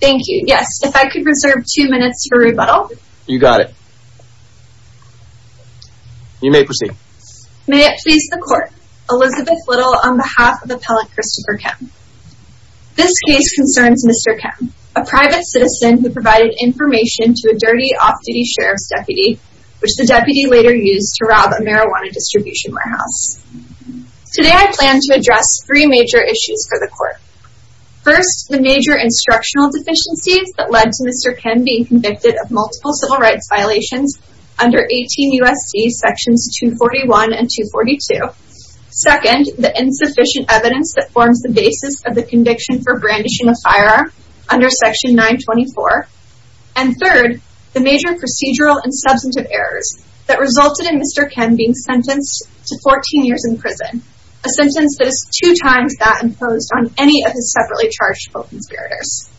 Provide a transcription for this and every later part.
Thank you. Yes, if I could reserve two minutes for rebuttal. You got it. You may proceed. May it please the court, Elizabeth Little on behalf of appellant Christopher Kim. This case concerns Mr. Kim, a private citizen who provided information to a dirty off-duty sheriff's deputy, which the deputy later used to rob a marijuana distribution warehouse. Today I plan to address three major issues for the court. First, the major instructional deficiencies that led to Mr. Kim being convicted of multiple civil rights violations under 18 U.S.C. sections 241 and 242. Second, the insufficient evidence that forms the basis of the conviction for brandishing a firearm under section 924. And third, the major procedural and substantive errors that resulted in Mr. Kim being sentenced to 14 years in prison, a sentence that is two times that imposed on any of his separately charged co-conspirators.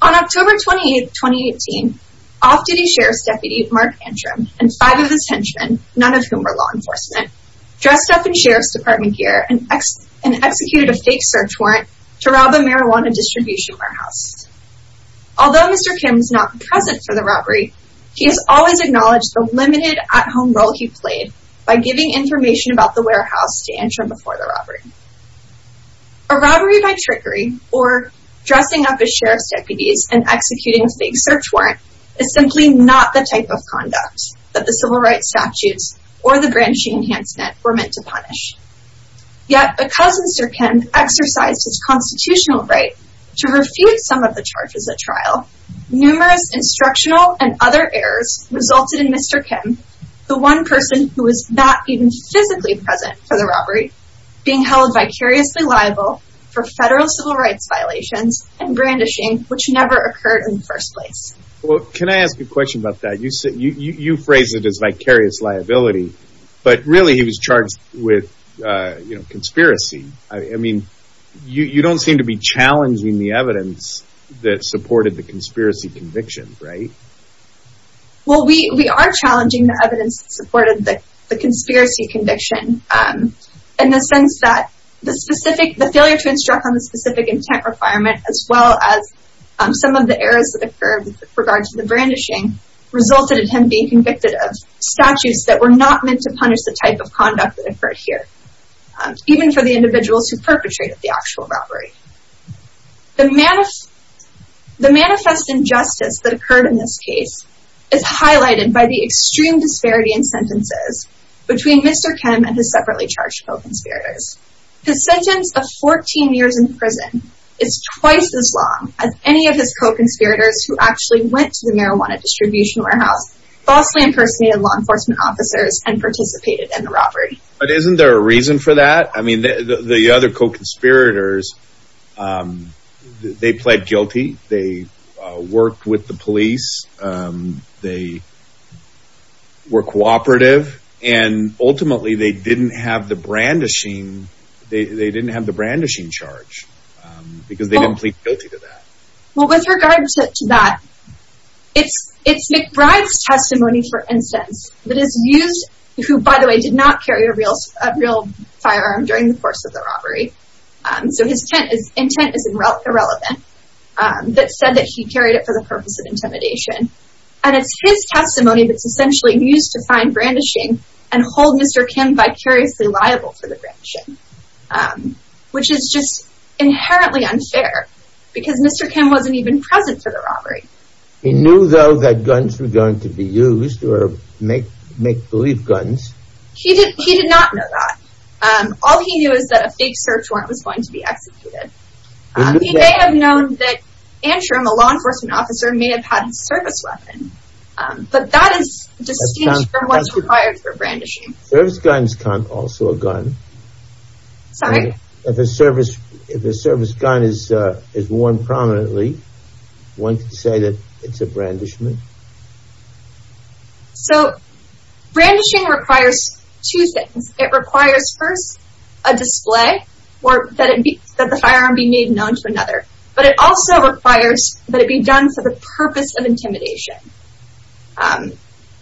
On October 28, 2018, off-duty sheriff's deputy Mark Antrim and five of his henchmen, none of whom were law enforcement, dressed up in sheriff's department gear and executed a fake search warrant to rob a marijuana distribution warehouse. Although Mr. Kim is not present for the robbery, he has always acknowledged the limited at-home role he played by giving information about the warehouse to Antrim before the robbery. A robbery by trickery, or dressing up as sheriff's deputies and executing a fake search warrant, is simply not the type of conduct that the civil rights statutes or the branching enhancement were meant to punish. Yet because Mr. Kim exercised his constitutional right to refute some of the charges at trial, numerous instructional and other errors resulted in Mr. Kim, the one person who was not even physically present for the robbery, being held vicariously liable for federal civil rights violations and brandishing, which never occurred in the first place. Well, can I ask you a question about that? You phrase it as vicarious liability, but really he was charged with conspiracy. I mean, you don't seem to be challenging the evidence that supported the conspiracy conviction, right? Well, we are challenging the evidence that supported the conspiracy conviction, in the sense that the failure to instruct on the specific intent requirement, as well as some of the errors that occurred with regard to the brandishing, resulted in him being convicted of statutes that were not meant to punish the type of conduct that occurred here. Even for the individuals who perpetrated the actual robbery. The manifest injustice that occurred in this case is highlighted by the extreme disparity in sentences between Mr. Kim and his separately charged co-conspirators. His sentence of 14 years in prison is twice as long as any of his co-conspirators who actually went to the marijuana distribution warehouse, falsely impersonated law enforcement officers and participated in the robbery. But isn't there a reason for that? I mean, the other co-conspirators, they pled guilty, they worked with the police, they were cooperative, and ultimately they didn't have the brandishing charge, because they didn't plead guilty to that. Well, with regard to that, it's McBride's testimony, for instance, that is used, who, by the way, did not carry a real firearm during the course of the robbery, so his intent is irrelevant, that said that he carried it for the purpose of intimidation. And it's his testimony that's essentially used to find brandishing and hold Mr. Kim vicariously liable for the brandishing. Which is just inherently unfair, because Mr. Kim wasn't even present for the robbery. He knew, though, that guns were going to be used, or make-believe guns. He did not know that. All he knew is that a fake search warrant was going to be executed. He may have known that Antrim, a law enforcement officer, may have had a service weapon, but that is distinct from what's required for brandishing. A service gun is also a gun. Sorry? If a service gun is worn prominently, one could say that it's a brandishment. So, brandishing requires two things. It requires, first, a display, or that the firearm be made known to another. But it also requires that it be done for the purpose of intimidation.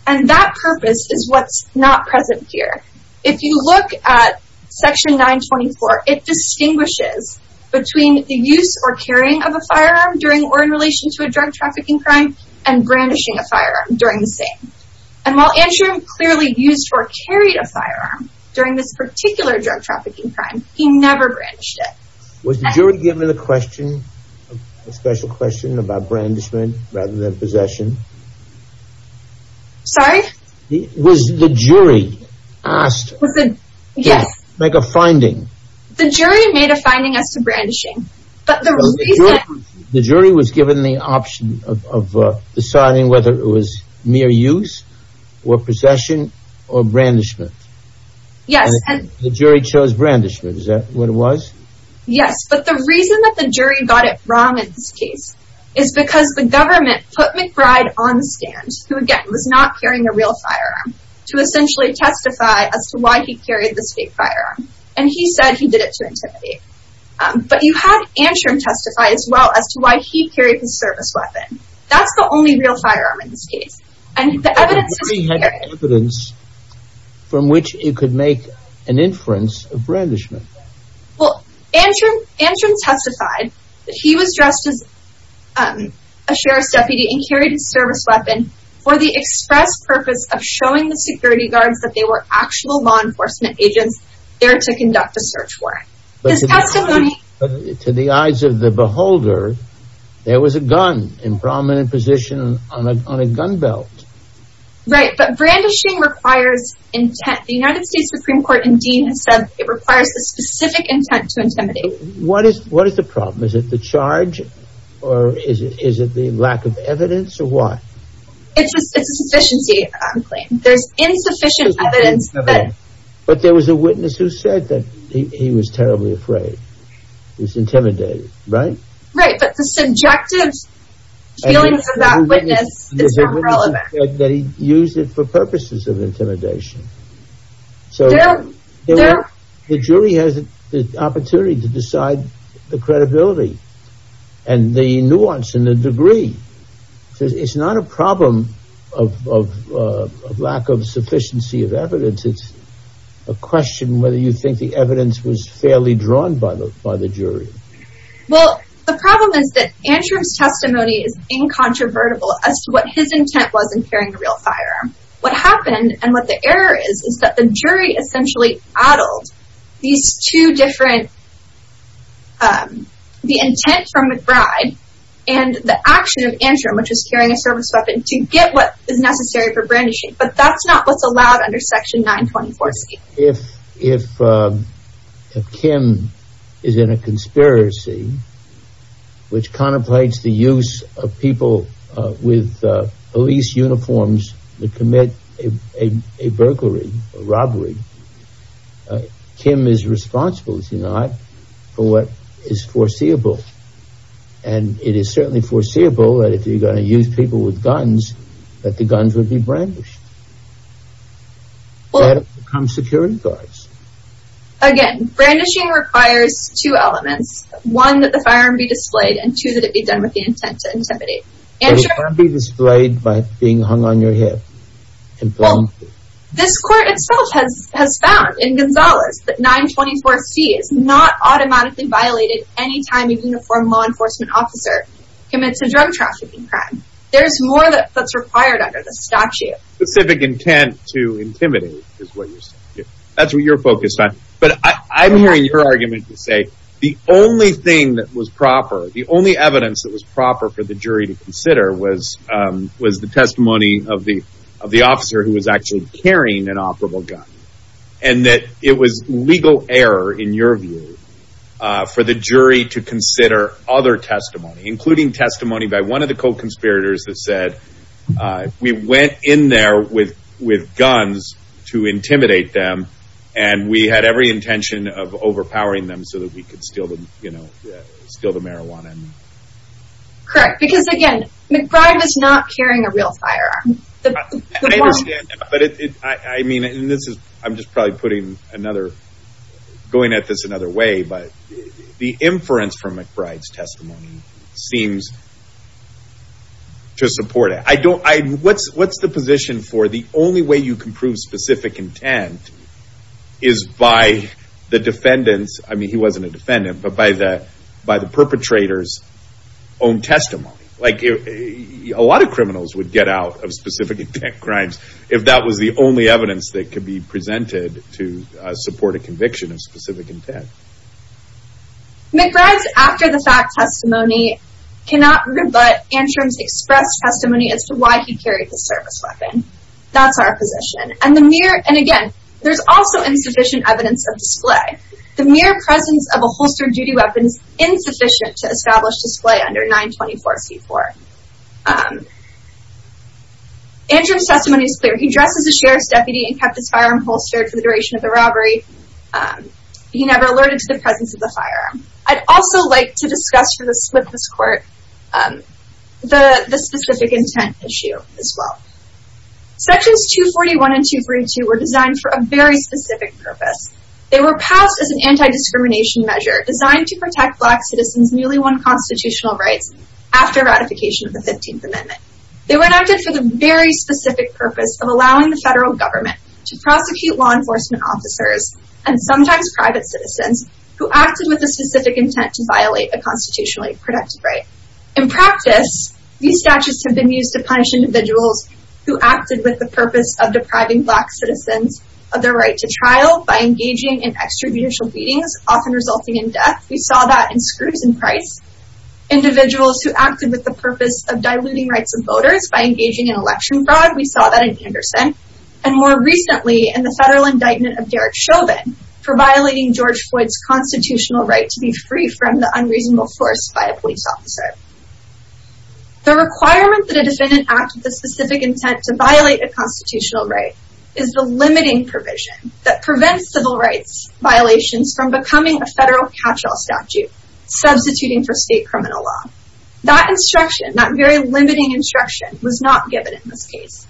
And that purpose is what's not present here. If you look at Section 924, it distinguishes between the use or carrying of a firearm during or in relation to a drug trafficking crime, and brandishing a firearm during the same. And while Antrim clearly used or carried a firearm during this particular drug trafficking crime, he never brandished it. Was the jury given a question, a special question, about brandishment rather than possession? Sorry? Was the jury asked to make a finding? The jury made a finding as to brandishing. The jury was given the option of deciding whether it was mere use, or possession, or brandishment. Yes. The jury chose brandishment. Is that what it was? Yes, but the reason that the jury got it wrong in this case is because the government put McBride on the stand, who again, was not carrying a real firearm, to essentially testify as to why he carried this fake firearm. And he said he did it to intimidate. But you had Antrim testify as well as to why he carried the service weapon. That's the only real firearm in this case. But what if he had evidence from which he could make an inference of brandishment? Well, Antrim testified that he was dressed as a sheriff's deputy and carried a service weapon for the express purpose of showing the security guards that they were actual law enforcement agents there to conduct a search warrant. But to the eyes of the beholder, there was a gun in prominent position on a gun belt. Right, but brandishing requires intent. The United States Supreme Court in Dean has said it requires a specific intent to intimidate. What is the problem? Is it the charge, or is it the lack of evidence, or what? It's a sufficiency claim. There's insufficient evidence that... It's intimidating, right? Right, but the subjective feelings of that witness is not relevant. That he used it for purposes of intimidation. So the jury has the opportunity to decide the credibility and the nuance and the degree. It's not a problem of lack of sufficiency of evidence. It's a question whether you think the evidence was fairly drawn by the jury. Well, the problem is that Antrim's testimony is incontrovertible as to what his intent was in carrying a real firearm. What happened, and what the error is, is that the jury essentially addled these two different... The intent from McBride and the action of Antrim, which is carrying a service weapon, to get what is necessary for brandishing. But that's not what's allowed under Section 924C. If Kim is in a conspiracy, which contemplates the use of people with police uniforms to commit a burglary, a robbery, Kim is responsible, is he not, for what is foreseeable. And it is certainly foreseeable that if you're going to use people with guns, that the guns would be brandished. That would become security guards. Again, brandishing requires two elements. One, that the firearm be displayed, and two, that it be done with the intent to intimidate. But it can't be displayed by being hung on your hip. Well, this court itself has found, in Gonzalez, that 924C is not automatically violated any time a uniformed law enforcement officer commits a drug trafficking crime. Specific intent to intimidate is what you're saying. That's what you're focused on. But I'm hearing your argument to say the only thing that was proper, the only evidence that was proper for the jury to consider, was the testimony of the officer who was actually carrying an operable gun. And that it was legal error, in your view, for the jury to consider other testimony, including testimony by one of the co-conspirators that said, we went in there with guns to intimidate them, and we had every intention of overpowering them so that we could steal the marijuana. Correct. Because, again, McBride was not carrying a real firearm. I understand, but I mean, I'm just probably putting another, going at this another way, but the inference from McBride's testimony seems to support it. What's the position for the only way you can prove specific intent is by the defendant's, I mean, he wasn't a defendant, but by the perpetrator's own testimony. A lot of criminals would get out of specific intent crimes if that was the only evidence that could be presented to support a conviction of specific intent. McBride's after-the-fact testimony cannot rebut Antrim's expressed testimony as to why he carried the service weapon. That's our position. And again, there's also insufficient evidence of display. The mere presence of a holstered duty weapon is insufficient to establish display under 924C4. Antrim's testimony is clear. He dressed as a sheriff's deputy and kept his firearm holstered for the duration of the robbery. He never alerted to the presence of the firearm. I'd also like to discuss for the swiftness court the specific intent issue as well. Sections 241 and 242 were designed for a very specific purpose. They were passed as an anti-discrimination measure designed to protect black citizens' newly won constitutional rights after ratification of the 15th Amendment. They were enacted for the very specific purpose of allowing the federal government to prosecute law enforcement officers and sometimes private citizens who acted with a specific intent to violate a constitutionally protected right. In practice, these statutes have been used to punish individuals who acted with the purpose of depriving black citizens of their right to trial by engaging in extrajudicial beatings, often resulting in death. We saw that in Scrooge and Price. Individuals who acted with the purpose of diluting rights of voters by engaging in election fraud, we saw that in Anderson. And more recently, in the federal indictment of Derek Chauvin for violating George Floyd's constitutional right to be free from the unreasonable force by a police officer. The requirement that a defendant act with a specific intent to violate a constitutional right is the limiting provision that prevents civil rights violations from becoming a federal catch-all statute, substituting for state criminal law. That instruction, that very limiting instruction, was not given in this case.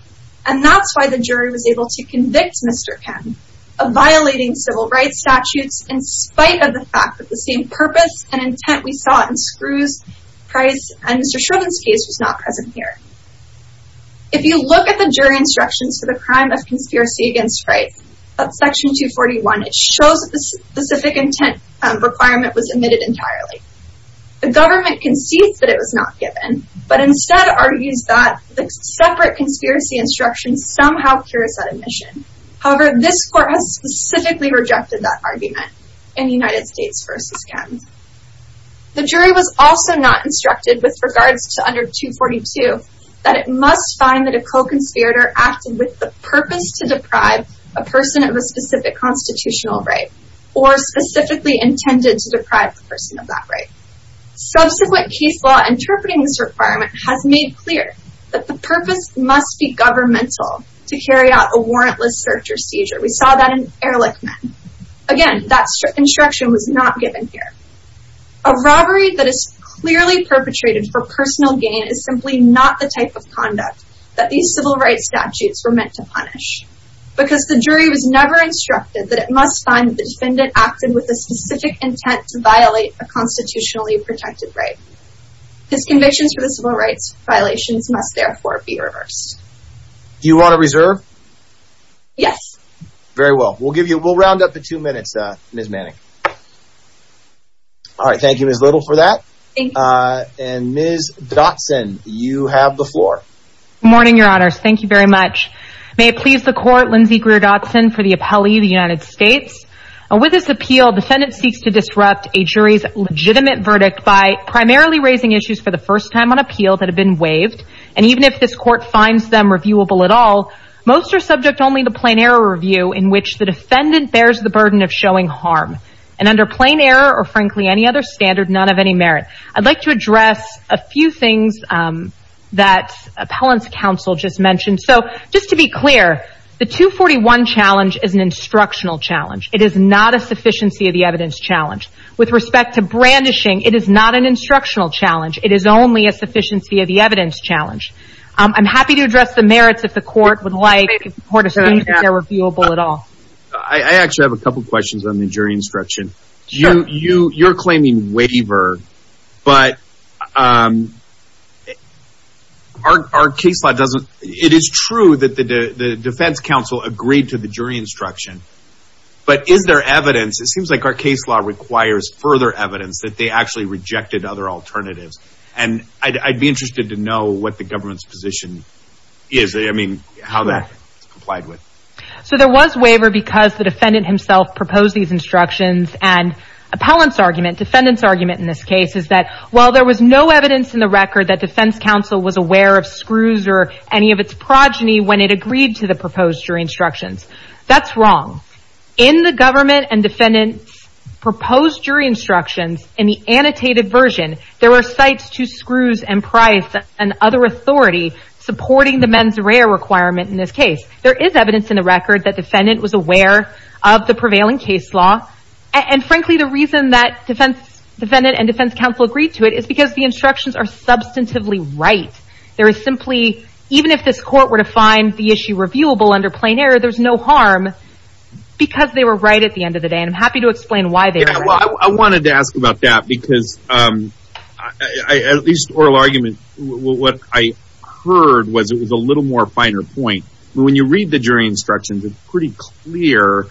And that's why the jury was able to convict Mr. Ken of violating civil rights statutes in spite of the fact that the same purpose and intent we saw in Scrooge, Price, and Mr. Chauvin's case was not present here. If you look at the jury instructions for the crime of conspiracy against rights of Section 241, it shows that the specific intent requirement was omitted entirely. The government concedes that it was not given, but instead argues that the separate conspiracy instruction somehow cures that omission. However, this court has specifically rejected that argument in United States v. Ken. The jury was also not instructed with regards to under 242 that it must find that a co-conspirator acted with the purpose to deprive a person of a specific constitutional right or specifically intended to deprive the person of that right. Subsequent case law interpreting this requirement has made clear that the purpose must be governmental to carry out a warrantless search or seizure. We saw that in Ehrlichman. Again, that instruction was not given here. A robbery that is clearly perpetrated for personal gain is simply not the type of conduct that these civil rights statutes were meant to punish. Because the jury was never instructed that it must find that the defendant acted with a specific intent to violate a constitutionally protected right. His convictions for the civil rights violations must therefore be reversed. Do you want to reserve? Yes. Very well. We'll give you we'll round up the two minutes. Ms. Manning. All right. Thank you as little for that. And Ms. Dotson, you have the floor. Morning, your honors. Thank you very much. May it please the court. Lindsey Greer Dotson for the appellee, the United States. With this appeal, defendant seeks to disrupt a jury's legitimate verdict by primarily raising issues for the first time on appeal that have been waived. And even if this court finds them reviewable at all, most are subject only to plain error review in which the defendant bears the burden of showing harm. And under plain error or frankly any other standard, none of any merit. I'd like to address a few things that appellant's counsel just mentioned. So just to be clear, the 241 challenge is an instructional challenge. It is not a sufficiency of the evidence challenge. With respect to brandishing, it is not an instructional challenge. It is only a sufficiency of the evidence challenge. I'm happy to address the merits if the court would like. If the court assumes that they're reviewable at all. I actually have a couple questions on the jury instruction. Sure. You're claiming waiver, but our case law doesn't. It is true that the defense counsel agreed to the jury instruction. But is there evidence? It seems like our case law requires further evidence that they actually rejected other alternatives. And I'd be interested to know what the government's position is. I mean, how that's complied with. So there was waiver because the defendant himself proposed these instructions. And appellant's argument, defendant's argument in this case is that while there was no evidence in the record that defense counsel was aware of screws or any of its progeny when it agreed to the proposed jury instructions. That's wrong. In the government and defendant's proposed jury instructions in the annotated version. There were sites to screws and price and other authority supporting the mens rea requirement in this case. There is evidence in the record that defendant was aware of the prevailing case law. And frankly, the reason that defendant and defense counsel agreed to it is because the instructions are substantively right. There is simply, even if this court were to find the issue reviewable under plain error, there's no harm because they were right at the end of the day. And I'm happy to explain why they were right. I wanted to ask about that because at least oral argument, what I heard was it was a little more finer point. When you read the jury instructions, it's pretty clear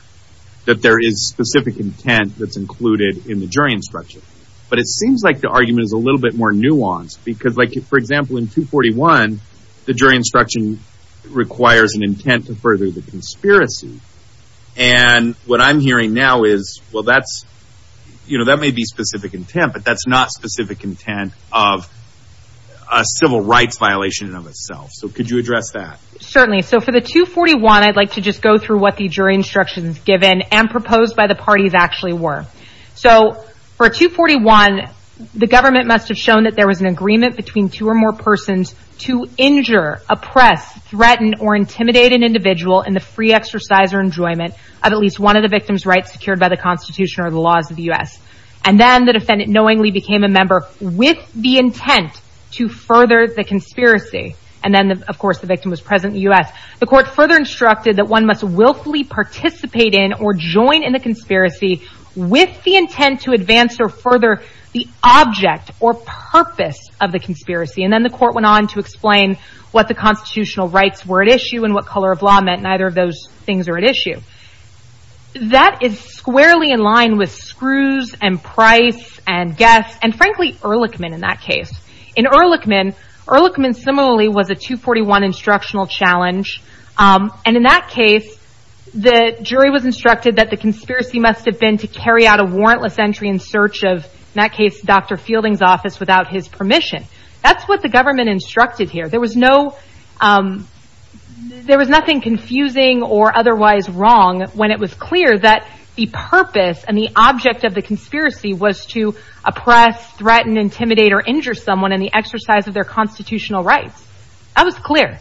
that there is specific intent that's included in the jury instructions. But it seems like the argument is a little bit more nuanced. Because, for example, in 241, the jury instruction requires an intent to further the conspiracy. And what I'm hearing now is, well, that's, you know, that may be specific intent, but that's not specific intent of a civil rights violation of itself. So could you address that? Certainly. So for the 241, I'd like to just go through what the jury instructions given and proposed by the parties actually were. So for 241, the government must have shown that there was an agreement between two or more persons to injure, oppress, threaten, or intimidate an individual in the free exercise or enjoyment of at least one of the victim's rights secured by the Constitution or the laws of the U.S. And then the defendant knowingly became a member with the intent to further the conspiracy. And then, of course, the victim was present in the U.S. The court further instructed that one must willfully participate in or join in the conspiracy with the intent to advance or further the object or purpose of the conspiracy. And then the court went on to explain what the constitutional rights were at issue and what color of law meant. Neither of those things are at issue. That is squarely in line with Screws and Price and Guess and, frankly, Ehrlichman in that case. In Ehrlichman, Ehrlichman similarly was a 241 instructional challenge. And in that case, the jury was instructed that the conspiracy must have been to carry out a warrantless entry in search of, in that case, Dr. Fielding's office without his permission. That's what the government instructed here. There was no, there was nothing confusing or otherwise wrong when it was clear that the purpose and the object of the conspiracy was to oppress, threaten, intimidate, or injure someone in the exercise of their constitutional rights. That was clear.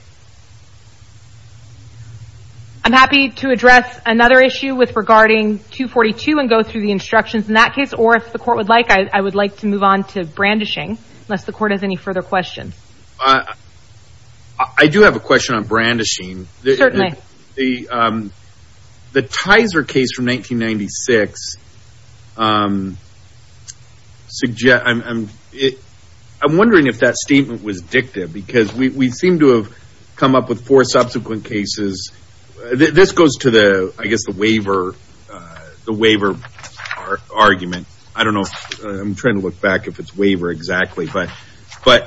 I'm happy to address another issue with regarding 242 and go through the instructions in that case. Or if the court would like, I would like to move on to brandishing unless the court has any further questions. I do have a question on brandishing. Certainly. The Tizer case from 1996 suggests, I'm wondering if that statement was dictative because we seem to have come up with four subsequent cases. This goes to the, I guess, the waiver argument. I don't know. I'm trying to look back if it's waiver exactly. But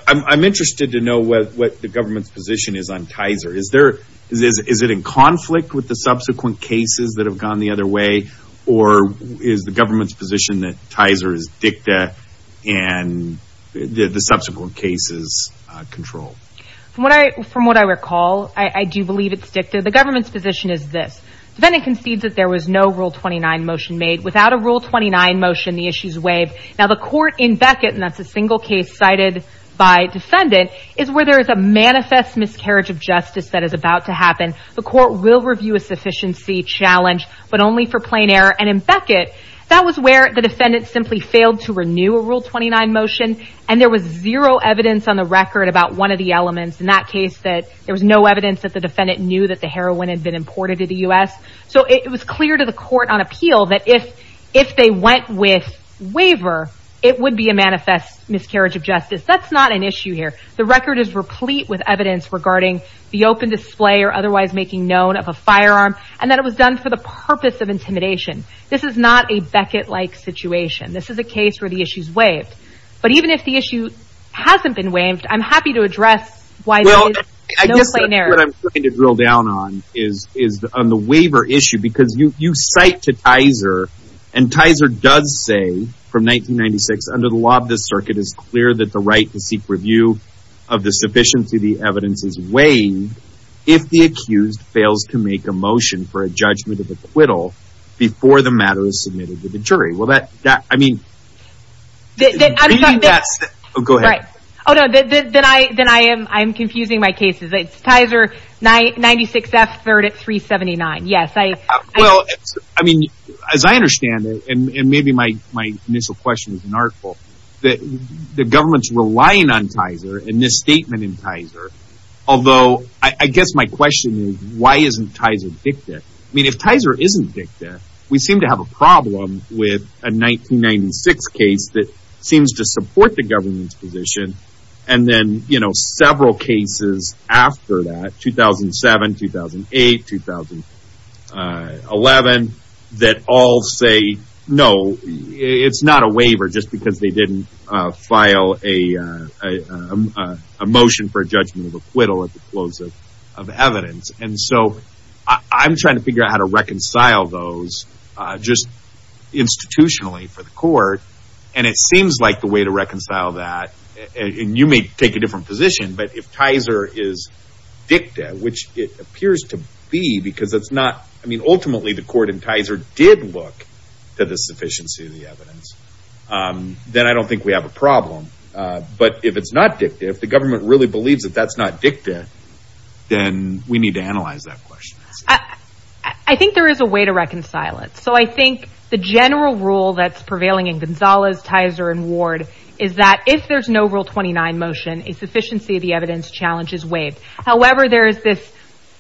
I'm interested to know what the government's position is on Tizer. Is it in conflict with the subsequent cases that have gone the other way? Or is the government's position that Tizer is dicta and the subsequent cases control? From what I recall, I do believe it's dicta. The government's position is this. Defendant concedes that there was no Rule 29 motion made. Without a Rule 29 motion, the issues waive. Now, the court in Beckett, and that's a single case cited by defendant, is where there is a manifest miscarriage of justice that is about to happen. The court will review a sufficiency challenge, but only for plain error. And in Beckett, that was where the defendant simply failed to renew a Rule 29 motion. And there was zero evidence on the record about one of the elements. In that case, there was no evidence that the defendant knew that the heroin had been imported to the U.S. So it was clear to the court on appeal that if they went with waiver, it would be a manifest miscarriage of justice. That's not an issue here. The record is replete with evidence regarding the open display or otherwise making known of a firearm and that it was done for the purpose of intimidation. This is not a Beckett-like situation. This is a case where the issue is waived. But even if the issue hasn't been waived, I'm happy to address why there is no plain error. What I'm trying to drill down on is on the waiver issue. Because you cite to Tizer, and Tizer does say from 1996, under the Lobb District, it is clear that the right to seek review of the sufficiency of the evidence is waived if the accused fails to make a motion for a judgment of acquittal before the matter is submitted to the jury. I'm confusing my cases. It's Tizer 96F, 3rd at 379. As I understand it, and maybe my initial question is an artful, the government is relying on Tizer and this statement in Tizer. Although, I guess my question is, why isn't Tizer victim? I mean, if Tizer isn't victim, we seem to have a problem with a 1996 case that seems to support the government's position. And then, you know, several cases after that, 2007, 2008, 2011, that all say, no, it's not a waiver just because they didn't file a motion for a judgment of acquittal at the close of evidence. And so I'm trying to figure out how to reconcile those just institutionally for the court. And it seems like the way to reconcile that, and you may take a different position, but if Tizer is dicta, which it appears to be because it's not, I mean, ultimately the court in Tizer did look to the sufficiency of the evidence, then I don't think we have a problem. But if it's not dicta, if the government really believes that that's not dicta, then we need to analyze that question. I think there is a way to reconcile it. So I think the general rule that's prevailing in Gonzalez, Tizer, and Ward is that if there's no Rule 29 motion, a sufficiency of the evidence challenge is waived. However, there is this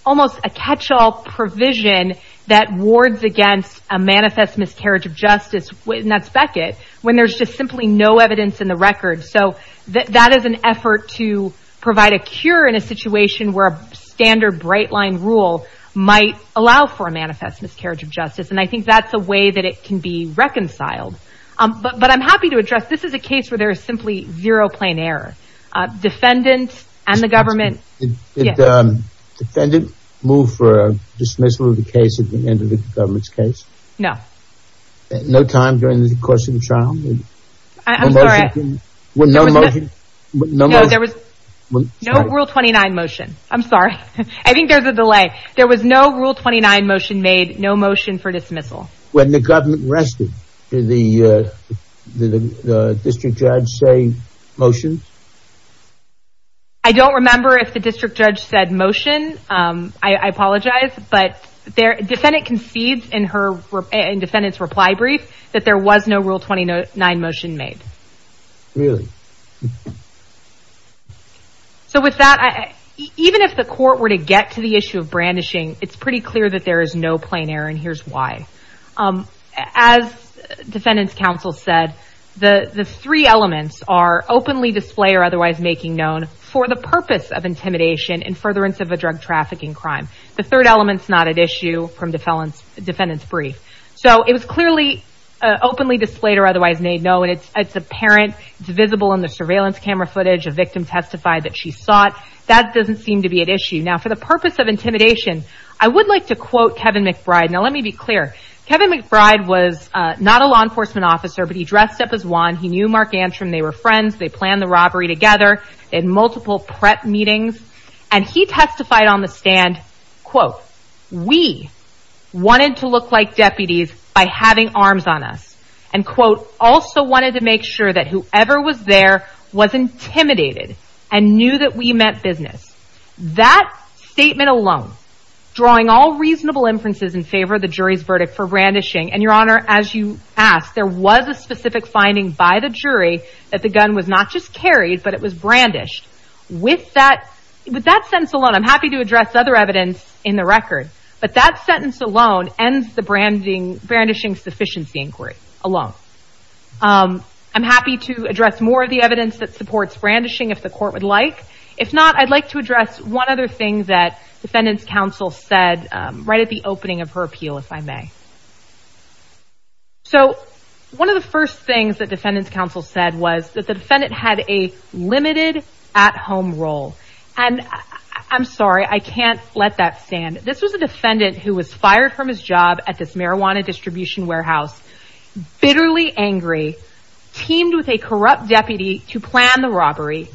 almost a catch-all provision that wards against a manifest miscarriage of justice, and that's Beckett, when there's just simply no evidence in the record. So that is an effort to provide a cure in a situation where a standard bright-line rule might allow for a manifest miscarriage of justice, and I think that's a way that it can be reconciled. But I'm happy to address, this is a case where there is simply zero plain error. Defendant and the government... Did the defendant move for a dismissal of the case at the end of the government's case? No. No time during the course of the trial? I'm sorry. No motion? No Rule 29 motion. I'm sorry. I think there's a delay. There was no Rule 29 motion made, no motion for dismissal. When the government rested, did the district judge say motion? I don't remember if the district judge said motion. I apologize. Defendant concedes in defendant's reply brief that there was no Rule 29 motion made. Really? So with that, even if the court were to get to the issue of brandishing, it's pretty clear that there is no plain error, and here's why. As defendant's counsel said, the three elements are openly display or otherwise making known for the purpose of intimidation and furtherance of a drug trafficking crime. The third element's not at issue from defendant's brief. So it was clearly openly displayed or otherwise made known. It's apparent. It's visible in the surveillance camera footage. A victim testified that she saw it. That doesn't seem to be at issue. Now, for the purpose of intimidation, I would like to quote Kevin McBride. Now, let me be clear. Kevin McBride was not a law enforcement officer, but he dressed up as one. He knew Mark Antrim. They were friends. They planned the robbery together. They had multiple prep meetings. And he testified on the stand, quote, We wanted to look like deputies by having arms on us. And, quote, also wanted to make sure that whoever was there was intimidated and knew that we meant business. That statement alone, drawing all reasonable inferences in favor of the jury's verdict for brandishing, and, Your Honor, as you asked, there was a specific finding by the jury that the gun was not just carried, but it was brandished. With that sentence alone, I'm happy to address other evidence in the record, but that sentence alone ends the brandishing sufficiency inquiry alone. I'm happy to address more of the evidence that supports brandishing if the court would like. If not, I'd like to address one other thing that defendant's counsel said right at the opening of her appeal, if I may. So one of the first things that defendant's counsel said was that the defendant had a limited at-home role. And I'm sorry, I can't let that stand. This was a defendant who was fired from his job at this marijuana distribution warehouse, bitterly angry, teamed with a corrupt deputy to plan the robbery,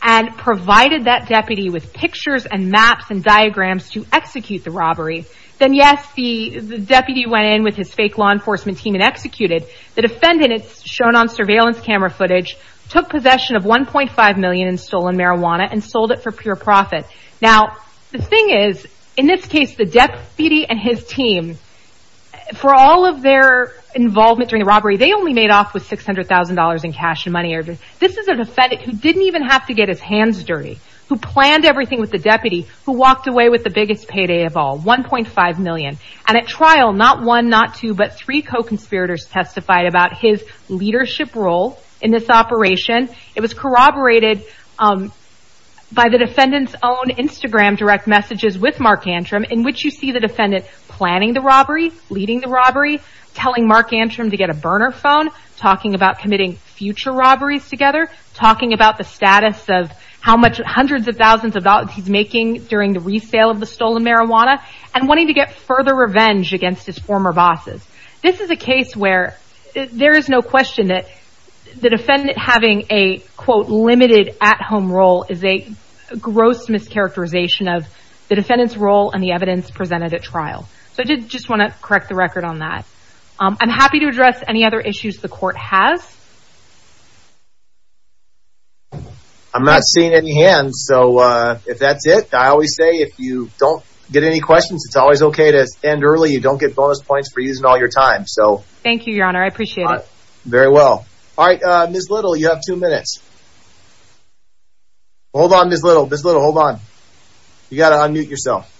and provided that deputy with pictures and maps and diagrams to execute the robbery. Then, yes, the deputy went in with his fake law enforcement team and executed. The defendant, it's shown on surveillance camera footage, took possession of $1.5 million in stolen marijuana and sold it for pure profit. Now, the thing is, in this case, the deputy and his team, for all of their involvement during the robbery, they only made off with $600,000 in cash and money. This is a defendant who didn't even have to get his hands dirty, who planned everything with the deputy, who walked away with the biggest payday of all, $1.5 million. And at trial, not one, not two, but three co-conspirators testified about his leadership role in this operation. It was corroborated by the defendant's own Instagram direct messages with Mark Antrim, in which you see the defendant planning the robbery, leading the robbery, telling Mark Antrim to get a burner phone, talking about committing future robberies together, talking about the status of how much, hundreds of thousands of dollars he's making during the resale of the stolen marijuana, and wanting to get further revenge against his former bosses. This is a case where there is no question that the defendant having a, quote, limited at-home role is a gross mischaracterization of the defendant's role and the evidence presented at trial. So I did just want to correct the record on that. I'm happy to address any other issues the court has. I'm not seeing any hands, so if that's it, I always say if you don't get any questions, it's always okay to end early. You don't get bonus points for using all your time. Thank you, Your Honor. I appreciate it. Very well. All right, Ms. Little, you have two minutes. Hold on, Ms. Little. Ms. Little, hold on. You've got to unmute yourself.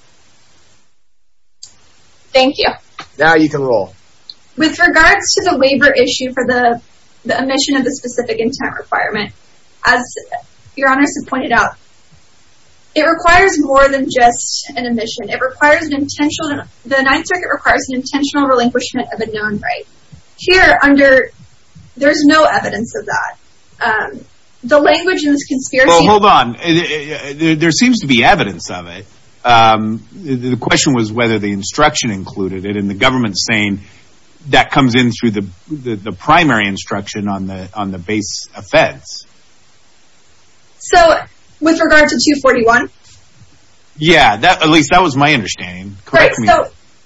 Thank you. Now you can roll. With regards to the waiver issue for the omission of the specific intent requirement, as Your Honor has pointed out, it requires more than just an omission. It requires an intentional, the Ninth Circuit requires an intentional relinquishment of a known right. Here, under, there's no evidence of that. The language in this conspiracy... Well, hold on. There seems to be evidence of it. The question was whether the instruction included it, and the government's saying that comes in through the primary instruction on the base offense. So, with regard to 241? Yeah, at least that was my understanding. Correct me.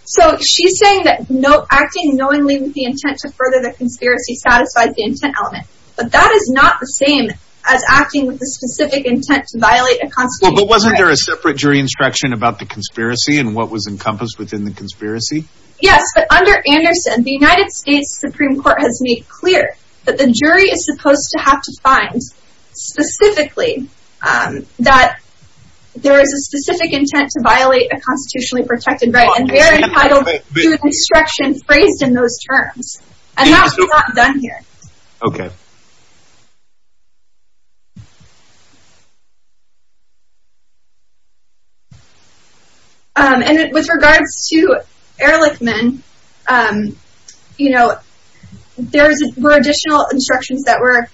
So, she's saying that acting knowingly with the intent to further the conspiracy satisfies the intent element, but that is not the same as acting with the specific intent to violate a constitutional right. Well, but wasn't there a separate jury instruction about the conspiracy, and what was encompassed within the conspiracy? Yes, but under Anderson, the United States Supreme Court has made clear that the jury is supposed to have to find, specifically, that there is a specific intent to violate a constitutionally protected right, and they are entitled to an instruction phrased in those terms. And that was not done here. Okay. And with regards to Ehrlichman, you know, there were additional instructions that were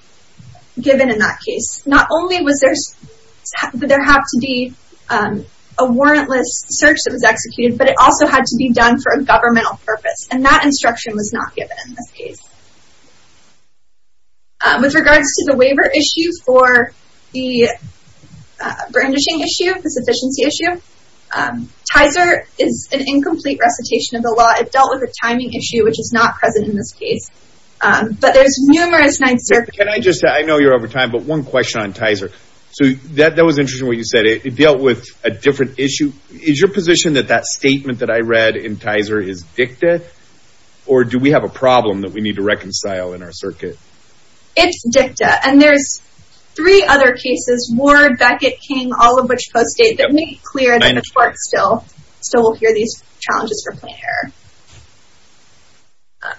given in that case. Not only did there have to be a warrantless search that was executed, but it also had to be done for a governmental purpose, and that instruction was not given in this case. With regards to the waiver issue for the brandishing issue, the sufficiency issue, Tizer is an incomplete recitation of the law. It dealt with a timing issue, which is not present in this case. But there's numerous... Can I just say, I know you're over time, but one question on Tizer. So, that was interesting what you said. It dealt with a different issue. Is your position that that statement that I read in Tizer is dicta, or do we have a problem that we need to reconcile in our circuit? It's dicta. And there's three other cases, Ward, Beckett, King, all of which post-date, that make it clear that the court still will hear these challenges for plain error.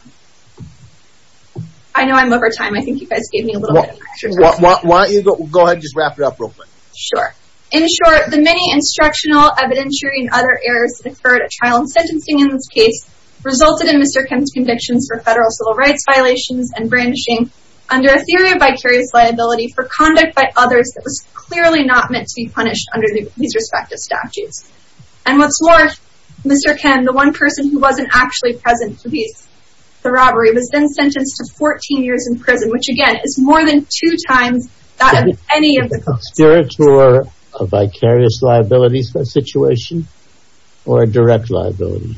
I know I'm over time. I think you guys gave me a little bit of extra time. Why don't you go ahead and just wrap it up real quick. Sure. In short, the many instructional, evidentiary, and other errors that occurred at trial and sentencing in this case, resulted in Mr. Kim's convictions for federal civil rights violations and brandishing, under a theory of vicarious liability for conduct by others that was clearly not meant to be punished under these respective statutes. And what's more, Mr. Kim, the one person who wasn't actually present for the robbery, was then sentenced to 14 years in prison, which, again, is more than two times that of any of the... Is the conspirator a vicarious liability situation, or a direct liability?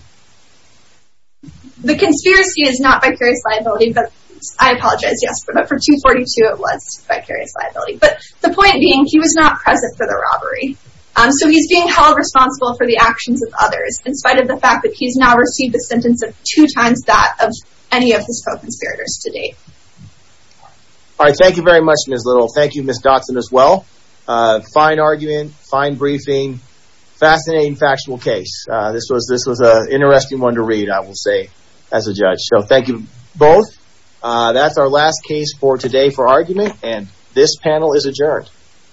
The conspiracy is not vicarious liability, but I apologize, yes, but for 242 it was vicarious liability. But the point being, he was not present for the robbery. So he's being held responsible for the actions of others, in spite of the fact that he's now received the sentence of two times that of any of his co-conspirators to date. All right, thank you very much, Ms. Little. Thank you, Ms. Dotson, as well. Fine argument, fine briefing, fascinating factual case. This was an interesting one to read, I will say, as a judge. So thank you both. That's our last case for today for argument, and this panel is adjourned.